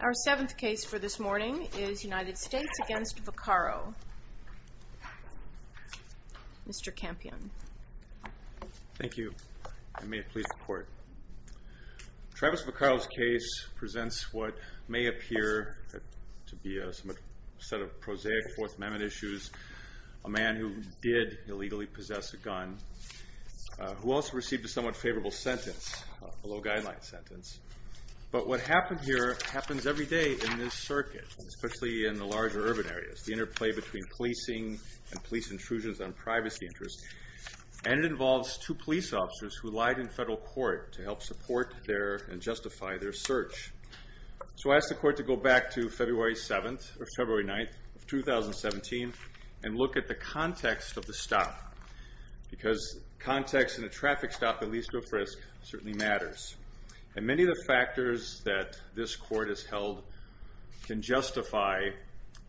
Our seventh case for this morning is United States v. Vaccaro. Mr. Campion. Thank you and may it please the court. Travis Vaccaro's case presents what may appear to be a set of prosaic Fourth Amendment issues, a man who did illegally possess a gun, who also received a somewhat favorable sentence, a low-guideline sentence. But what happened here happens every day in this circuit, especially in the larger urban areas, the interplay between policing and police intrusions on privacy interests. And it involves two police officers who lied in federal court to help support and justify their search. So I ask the court to go back to February 7th or February 9th of 2017 and look at the context of the stop. Because context in a traffic stop that leads to a frisk certainly matters. And many of the factors that this court has held can justify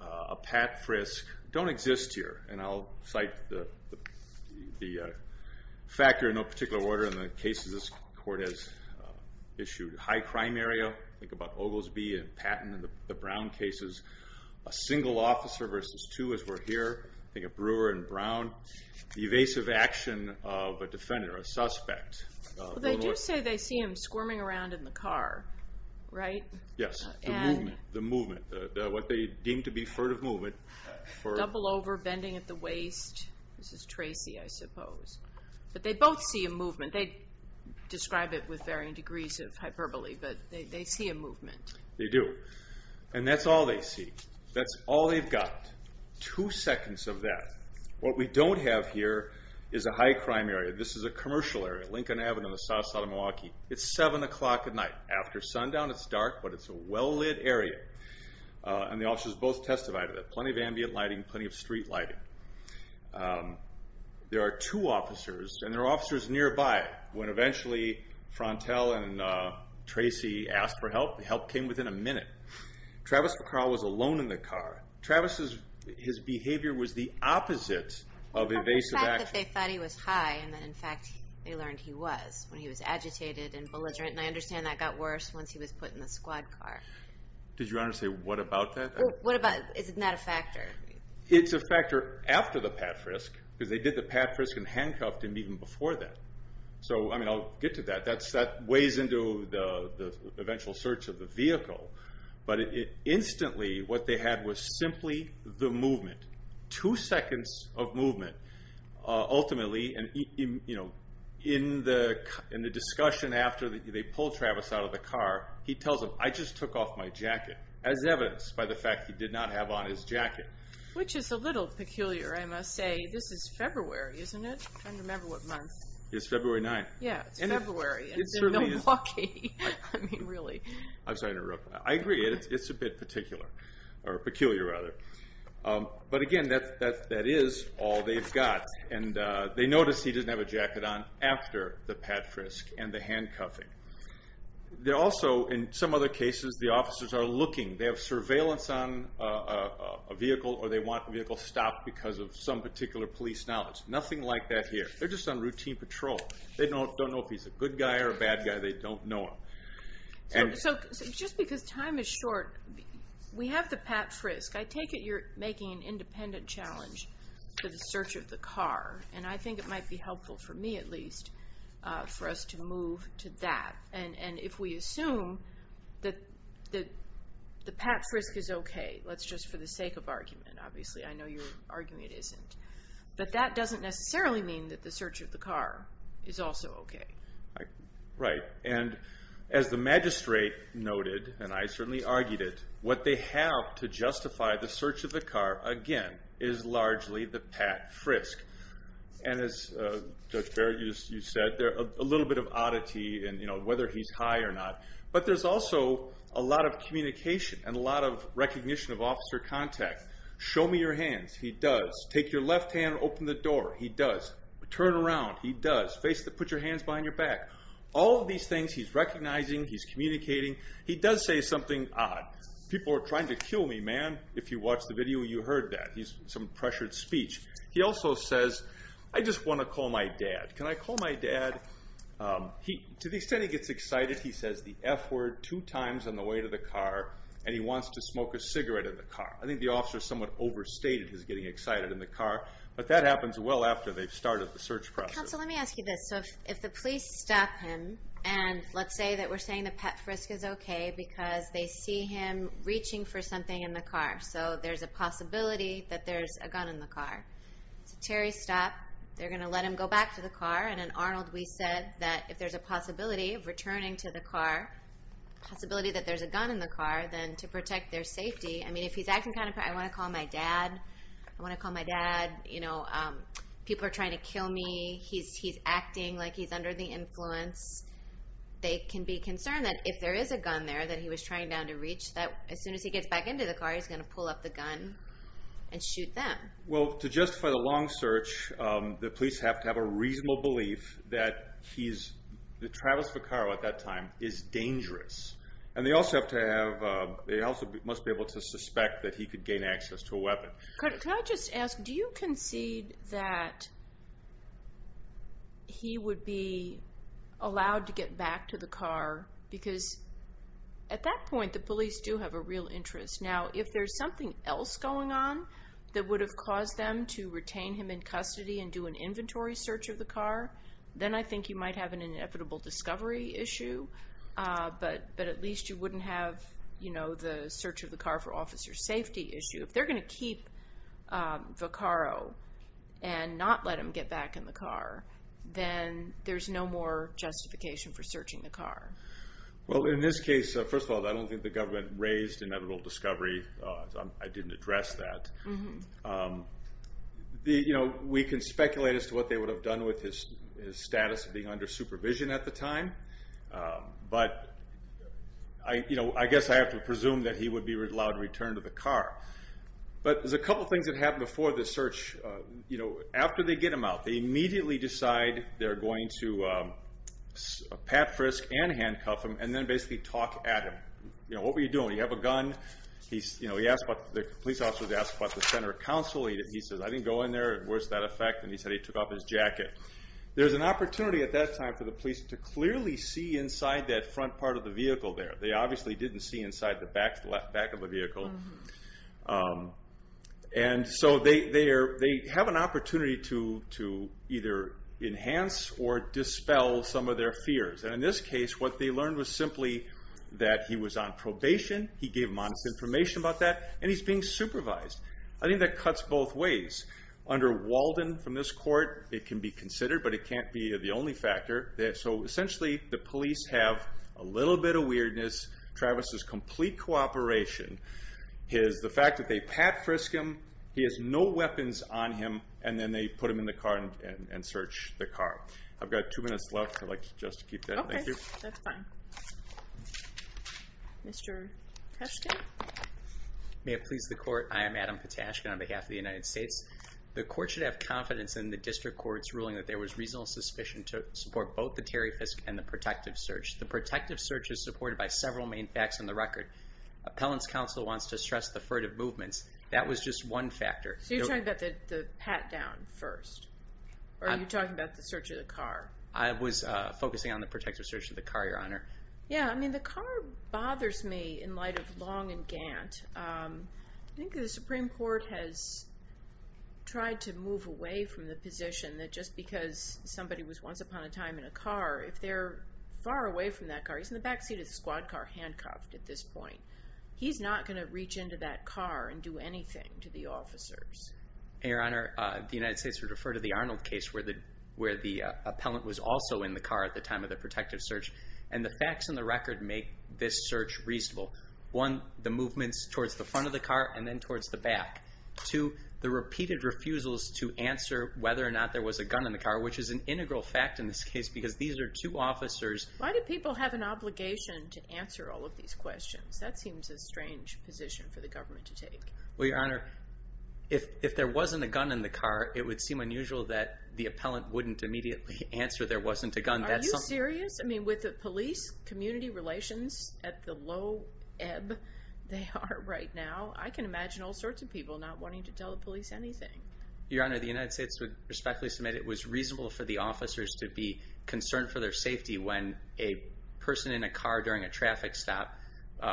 a pat frisk don't exist here. And I'll cite the factor in no particular order in the cases this court has issued. High crime area, think about Oglesby and Patton and the Brown cases. A single officer versus two as we're here, think of Brewer and Brown. Evasive action of a defender, a suspect. They do say they see him squirming around in the car, right? Yes, the movement. What they deem to be furtive movement. Double over, bending at the waist. This is Tracy, I suppose. But they both see a movement. They describe it with varying degrees of hyperbole, but they see a movement. They do. And that's all they see. That's all they've got. Two seconds of that. What we don't have here is a high crime area. This is a commercial area, Lincoln Avenue in the south side of Milwaukee. It's 7 o'clock at night. After sundown, it's dark, but it's a well-lit area. And the officers both testified to that. Plenty of ambient lighting, plenty of street lighting. There are two officers, and they're officers nearby. When eventually Frontel and Tracy asked for help, the help came within a minute. Travis McCall was alone in the car. Travis's behavior was the opposite of evasive action. But they thought he was high, and then in fact, they learned he was, when he was agitated and belligerent. And I understand that got worse once he was put in the squad car. Did you want to say what about that? What about, isn't that a factor? It's a factor after the pat-frisk, because they did the pat-frisk and handcuffed him even before that. So I'll get to that. That weighs into the eventual search of the vehicle. But instantly, what they had was simply the movement. Two seconds of movement. Ultimately, in the discussion after they pulled Travis out of the car, he tells them, I just took off my jacket. As evidenced by the fact he did not have on his jacket. Which is a little peculiar, I must say. This is February, isn't it? I can't remember what month. It's February 9th. Yeah, it's February, and Milwaukee. I'm sorry to interrupt. I agree, it's a bit peculiar. But again, that is all they've got. And they notice he doesn't have a jacket on after the pat-frisk and the handcuffing. They also, in some other cases, the officers are looking. They have surveillance on a vehicle, or they want the vehicle stopped because of some particular police knowledge. Nothing like that here. They're just on routine patrol. They don't know if he's a good guy or a bad guy. They don't know him. So, just because time is short, we have the pat-frisk. I take it you're making an independent challenge for the search of the car. And I think it might be helpful, for me at least, for us to move to that. And if we assume that the pat-frisk is okay, that's just for the sake of argument, obviously. I know you're arguing it isn't. But that doesn't necessarily mean that the search of the car is also okay. Right. And as the magistrate noted, and I certainly argued it, what they have to justify the search of the car, again, is largely the pat-frisk. And as Judge Barrett, you said, a little bit of oddity in whether he's high or not. But there's also a lot of communication and a lot of recognition of officer contact. Show me your hands. He does. Take your left hand and open the door. He does. Turn around. He does. Face to put your hands behind your back. All of these things he's recognizing. He's communicating. He does say something odd. People are trying to kill me, man. If you watched the video, you heard that. He's some pressured speech. He also says, I just want to call my dad. Can I call my dad? To the extent he gets excited, he says the F word two times on the way to the car, and he wants to smoke a cigarette in the car. I think the officer somewhat overstated his getting excited in the car. But that happens well after they've started the search process. Counsel, let me ask you this. So if the police stop him, and let's say that we're saying the pat-frisk is okay because they see him reaching for something in the car. So there's a possibility that there's a gun in the car. Terry stopped. They're going to let him go back to the car. And in Arnold, we said that if there's a possibility of returning to the car, a possibility that there's a gun in the car, then to protect their safety. I mean, if he's acting kind of, I want to call my dad. I want to call my dad. People are trying to kill me. He's acting like he's under the influence. They can be concerned that if there is a gun there that he was trying down to reach, that as soon as he gets back into the car, he's going to pull up the gun and shoot them. Well, to justify the long search, the police have to have a reasonable belief that he's, that Travis Vaccaro at that time, is dangerous. And they also have to have, they also must be able to suspect that he could gain access to a weapon. Could I just ask, do you concede that he would be allowed to get back to the car? Because at that point, the police do have a real interest. Now, if there's something else going on that would have caused them to retain him in custody and do an inventory search of the car, then I think you might have an inevitable discovery issue. But at least you wouldn't have the search of the car for officer safety issue. If they're going to keep Vaccaro and not let him get back in the car, then there's no more justification for searching the car. Well, in this case, first of all, I don't think the government raised inevitable discovery. I didn't address that. We can speculate as to what they would have done with his status of being under supervision at the time. But I guess I have to presume that he would be allowed to return to the car. But there's a couple things that happen before the search. After they get him out, they immediately decide they're going to pat, frisk, and handcuff him, and then basically talk at him. What were you doing? You have a gun. The police officer asks about the center of counsel. He says, I didn't go in there. Where's that effect? And he said he took off his jacket. There's an opportunity at that time for the police to clearly see inside that front part of the vehicle there. They obviously didn't see inside the back of the vehicle. They have an opportunity to either enhance or dispel some of their fears. In this case, what they learned was simply that he was on probation. He gave modest information about that, and he's being supervised. I think that cuts both ways. Under Walden, from this court, it can be considered, but it can't be the only factor. Essentially, the police have a little bit of weirdness, Travis's complete cooperation, the fact that they pat, frisk him, he has no weapons on him, and then they put him in the car and search the car. I've got two minutes left. I'd like just to keep that. Okay, that's fine. Mr. Petashkin? May it please the court, I am Adam Petashkin on behalf of the United States. The court should have confidence in the district court's ruling that there was reasonable suspicion to support both the Terry Fisk and the protective search. The protective search is supported by several main facts on the record. Appellant's counsel wants to stress the furtive movements. That was just one factor. So you're talking about the pat down first? Or are you talking about the search of the car? I was focusing on the protective search of the car, your honor. Yeah, I mean, the car bothers me in light of Long and Gant. I think the Supreme Court has tried to move away from the position that just because somebody was once upon a time in a car, if they're far away from that car, he's in the backseat of the squad car handcuffed at this point, he's not going to reach into that car and do anything to the officer. Your honor, the United States would refer to the Arnold case where the where the appellant was also in the car at the time of the protective search. And the facts on the record make this search reasonable. One, the movements towards the front of the car and then towards the back to the repeated refusals to answer whether or not there was a gun in the car, which is an integral fact in this case, because these are two officers. Why do people have an obligation to answer all of these questions? That seems a strange position for the government to take. Well, your honor, if there wasn't a gun in the car, it would seem unusual that the appellant wouldn't immediately answer there wasn't a gun. Are you serious? I mean, with the police community relations at the low ebb they are right now, I can imagine all sorts of people not wanting to tell the police anything. Your honor, the United States would respectfully submit it was reasonable for the officers to be concerned for their safety when a person in a car during a traffic stop,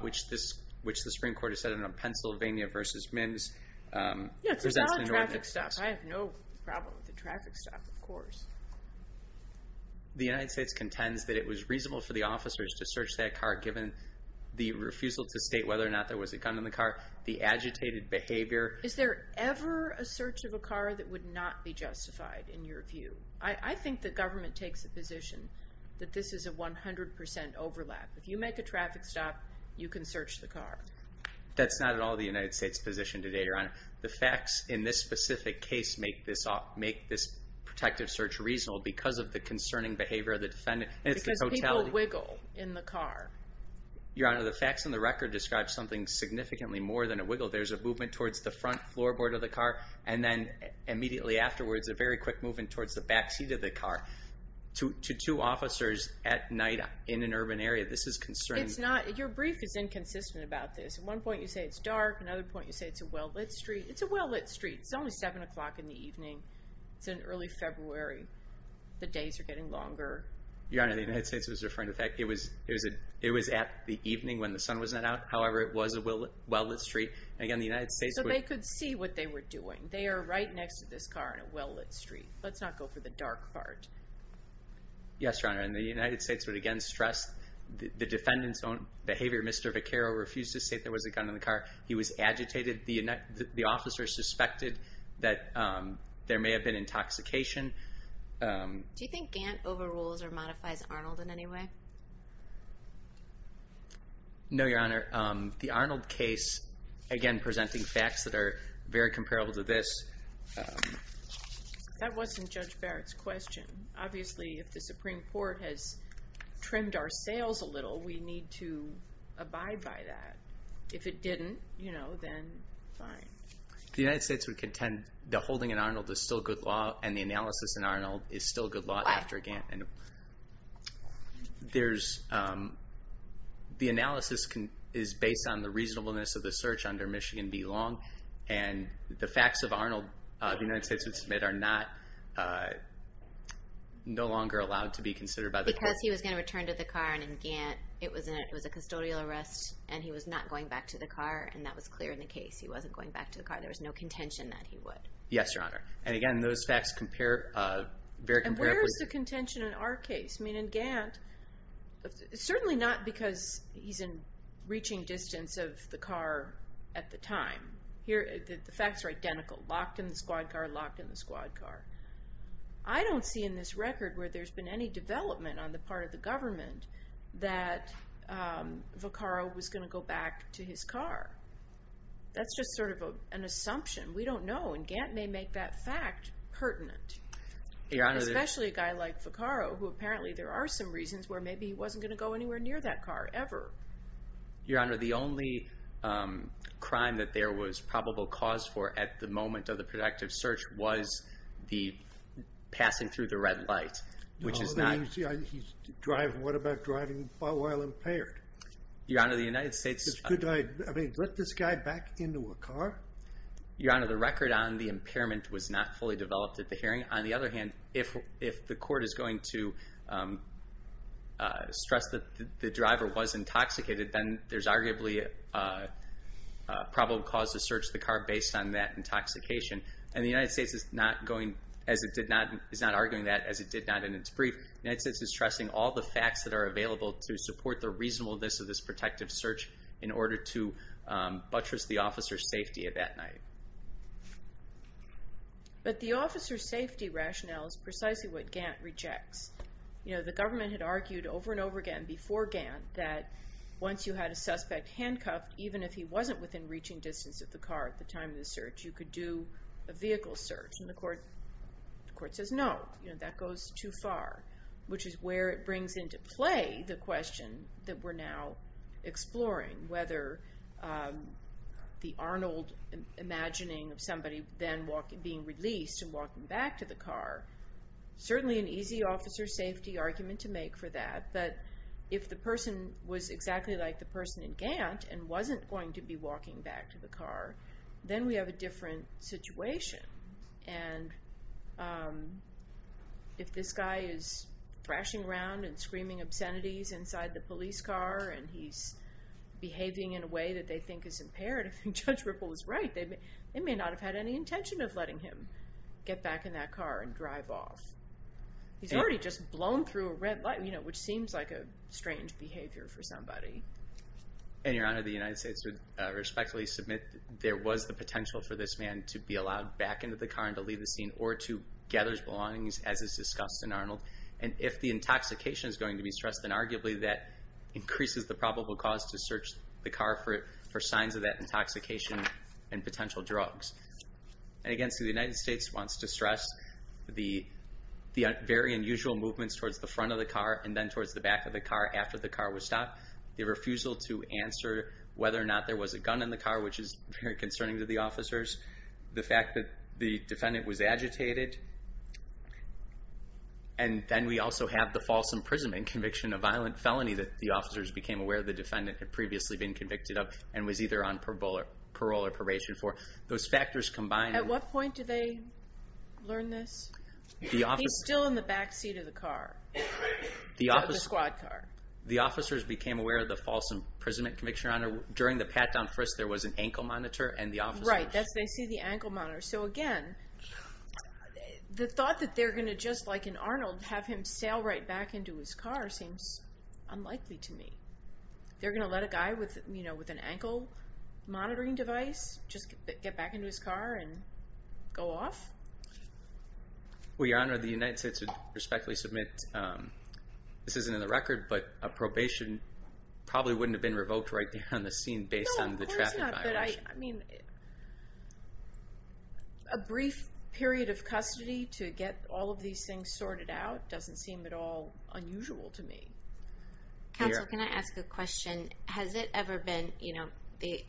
which this which the Supreme Court has said in a Pennsylvania versus men's. I have no problem with the traffic stop, of course. The United States contends that it was reasonable for the officers to search that car, given the refusal to state whether or not there was a gun in the car. The agitated behavior. Is there ever a search of a car that would not be justified in your view? I think the government takes the position that this is a 100 percent overlap. If you make a traffic stop, you can search the car. That's not at all the United States position today, your honor. The facts in this specific case make this make this protective search reasonable because of the concerning behavior of the defendant. Because people wiggle in the car. Your honor, the facts in the record describe something significantly more than a wiggle. There's a movement towards the front floorboard of the car. And then immediately afterwards, a very quick movement towards the backseat of the car. To two officers at night in an urban area. This is concerning. It's not. Your brief is inconsistent about this. At one point, you say it's dark. Another point, you say it's a well-lit street. It's a well-lit street. It's only seven o'clock in the evening. It's in early February. The days are getting longer. Your honor, the United States was referring to the fact it was it was it was at the evening when the sun was not out. However, it was a well-lit street. So they could see what they were doing. They are right next to this car in a well-lit street. Let's not go for the dark part. Yes, your honor. And the United States would again stress the defendant's own behavior. Mr. Vaccaro refused to say there was a gun in the car. He was agitated. The officer suspected that there may have been intoxication. Do you think Gantt overrules or modifies Arnold in any way? No, your honor. The Arnold case, again, presenting facts that are very comparable to this. That wasn't Judge Barrett's question. Obviously, if the Supreme Court has trimmed our sails a little, we need to abide by that. If it didn't, you know, then fine. The United States would contend the holding in Arnold is still good law and the analysis in Arnold is still good law after Gantt. The analysis is based on the reasonableness of the search under Michigan v. Long. And the facts of Arnold, the United States would submit, are no longer allowed to be considered by the court. He says he was going to return to the car and in Gantt, it was a custodial arrest and he was not going back to the car and that was clear in the case. He wasn't going back to the car. There was no contention that he would. Yes, your honor. And again, those facts compare very comparably. And where is the contention in our case? I mean, in Gantt, certainly not because he's in reaching distance of the car at the time. The facts are identical. Locked in the squad car, locked in the squad car. I don't see in this record where there's been any development on the part of the government that Vaccaro was going to go back to his car. That's just sort of an assumption. We don't know. And Gantt may make that fact pertinent. Especially a guy like Vaccaro, who apparently there are some reasons where maybe he wasn't going to go anywhere near that car ever. Your honor, the only crime that there was probable cause for at the moment of the productive search was the passing through the red light, which is not. He's driving. What about driving while impaired? Your honor, the United States. I mean, let this guy back into a car. Your honor, the record on the impairment was not fully developed at the hearing. On the other hand, if the court is going to stress that the driver was intoxicated, then there's arguably a probable cause to search the car based on that intoxication. And the United States is not arguing that as it did not in its brief. The United States is stressing all the facts that are available to support the reasonableness of this protective search in order to buttress the officer's safety at that night. But the officer's safety rationale is precisely what Gantt rejects. You know, the government had argued over and over again before Gantt that once you had a suspect handcuffed, even if he wasn't within reaching distance of the car at the time of the search, you could do a vehicle search. And the court says no. You know, that goes too far, which is where it brings into play the question that we're now exploring. Whether the Arnold imagining of somebody then being released and walking back to the car, certainly an easy officer safety argument to make for that. But if the person was exactly like the person in Gantt and wasn't going to be walking back to the car, then we have a different situation. And if this guy is thrashing around and screaming obscenities inside the police car and he's behaving in a way that they think is imperative, and Judge Ripple was right, they may not have had any intention of letting him get back in that car and drive off. He's already just blown through a red light, you know, which seems like a strange behavior for somebody. And, Your Honor, the United States would respectfully submit that there was the potential for this man to be allowed back into the car and to leave the scene or to gather his belongings, as is discussed in Arnold. And if the intoxication is going to be stressed, then arguably that increases the probable cause to search the car for signs of that intoxication and potential drugs. And again, see, the United States wants to stress the very unusual movements towards the front of the car and then towards the back of the car after the car was stopped. The refusal to answer whether or not there was a gun in the car, which is very concerning to the officers. The fact that the defendant was agitated. And then we also have the false imprisonment conviction, a violent felony that the officers became aware the defendant had previously been convicted of and was either on parole or probation for. Those factors combined. At what point did they learn this? He's still in the back seat of the car. The squad car. The officers became aware of the false imprisonment conviction, Your Honor. During the pat down for us, there was an ankle monitor and the officers. Right, they see the ankle monitor. So again, the thought that they're going to just like in Arnold, have him sail right back into his car seems unlikely to me. They're going to let a guy with, you know, with an ankle monitoring device just get back into his car and go off. Well, Your Honor, the United States would respectfully submit. This isn't in the record, but a probation probably wouldn't have been revoked right there on the scene based on the traffic violation. No, of course not, but I mean, a brief period of custody to get all of these things sorted out doesn't seem at all unusual to me. Counsel, can I ask a question? Has it ever been, you know, the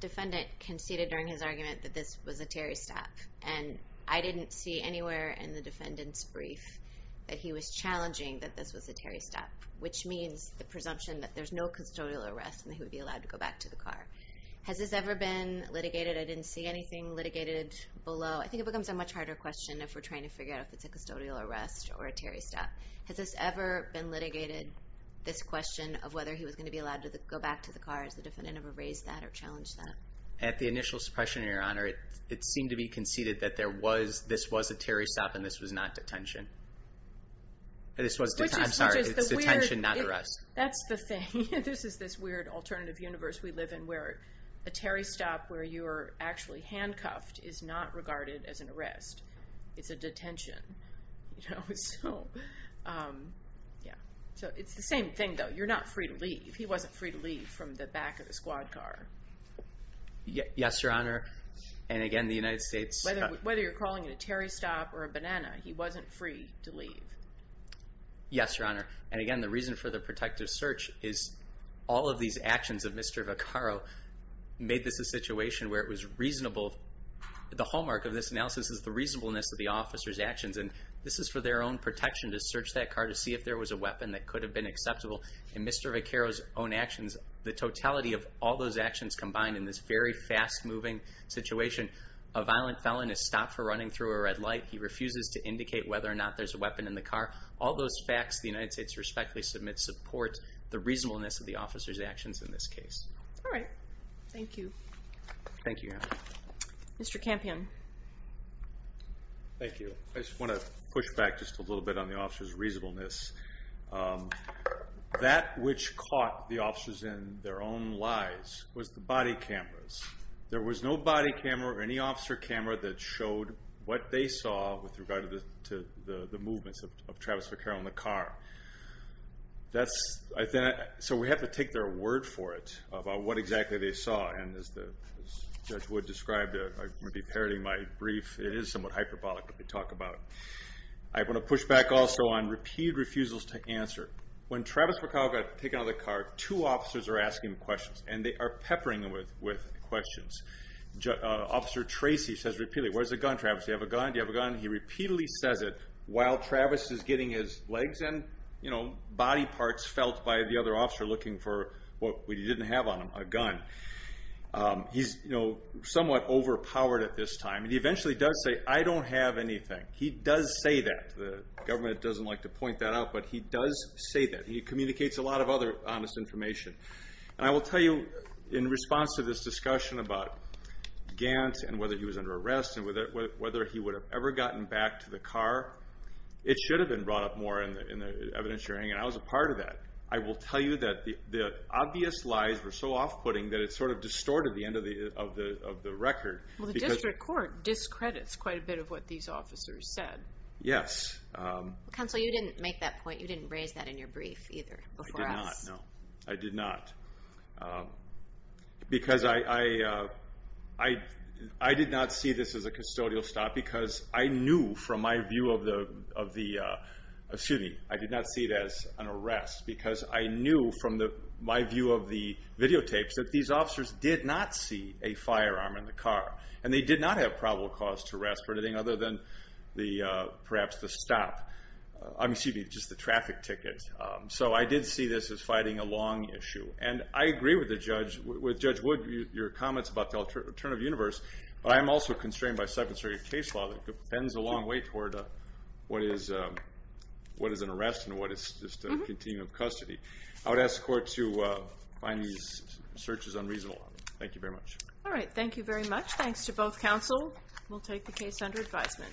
defendant conceded during his argument that this was a Terry stop, and I didn't see anywhere in the defendant's brief that he was challenging that this was a Terry stop, which means the presumption that there's no custodial arrest and he would be allowed to go back to the car. Has this ever been litigated? I didn't see anything litigated below. I think it becomes a much harder question if we're trying to figure out if it's a custodial arrest or a Terry stop. Has this ever been litigated, this question of whether he was going to be allowed to go back to the car? Has the defendant ever raised that or challenged that? At the initial suppression, Your Honor, it seemed to be conceded that this was a Terry stop and this was not detention. I'm sorry, it's detention, not arrest. That's the thing. This is this weird alternative universe we live in where a Terry stop where you are actually handcuffed is not regarded as an arrest. It's a detention. So it's the same thing, though. You're not free to leave. He wasn't free to leave from the back of the squad car. Yes, Your Honor. And, again, the United States— Whether you're calling it a Terry stop or a banana, he wasn't free to leave. Yes, Your Honor. And, again, the reason for the protective search is all of these actions of Mr. Vaccaro made this a situation where it was reasonable. The hallmark of this analysis is the reasonableness of the officer's actions. And this is for their own protection to search that car to see if there was a weapon that could have been acceptable. In Mr. Vaccaro's own actions, the totality of all those actions combined in this very fast-moving situation, a violent felon is stopped for running through a red light. He refuses to indicate whether or not there's a weapon in the car. All those facts the United States respectfully submits support the reasonableness of the officer's actions in this case. All right. Thank you. Thank you, Your Honor. Mr. Campion. Thank you. I just want to push back just a little bit on the officer's reasonableness. That which caught the officers in their own lies was the body cameras. There was no body camera or any officer camera that showed what they saw with regard to the movements of Travis Vaccaro in the car. So we have to take their word for it about what exactly they saw. And as Judge Wood described, I'm going to be parodying my brief. It is somewhat hyperbolic that we talk about it. I want to push back also on repeat refusals to answer. When Travis Vaccaro got taken out of the car, two officers are asking him questions, and they are peppering him with questions. Officer Tracy says repeatedly, where's the gun, Travis? Do you have a gun? Do you have a gun? He repeatedly says it while Travis is getting his legs and body parts felt by the other officer looking for what we didn't have on him, a gun. He's somewhat overpowered at this time. He eventually does say, I don't have anything. He does say that. The government doesn't like to point that out, but he does say that. He communicates a lot of other honest information. And I will tell you, in response to this discussion about Gant and whether he was under arrest and whether he would have ever gotten back to the car, it should have been brought up more in the evidence hearing, and I was a part of that. I will tell you that the obvious lies were so off-putting that it sort of distorted the end of the record. Well, the district court discredits quite a bit of what these officers said. Yes. Counsel, you didn't make that point. You didn't raise that in your brief either before us. No, I did not. Because I did not see this as a custodial stop because I knew from my view of the, excuse me, I did not see it as an arrest because I knew from my view of the videotapes that these officers did not see a firearm in the car. And they did not have probable cause to arrest for anything other than perhaps the stop. Excuse me, just the traffic ticket. So I did see this as fighting a long issue. And I agree with Judge Wood, your comments about the alternative universe, but I am also constrained by second circuit case law that bends a long way toward what is an arrest and what is just a continuum of custody. I would ask the court to find these searches unreasonable. Thank you very much. All right. Thank you very much. Thanks to both counsel. We'll take the case under advisement.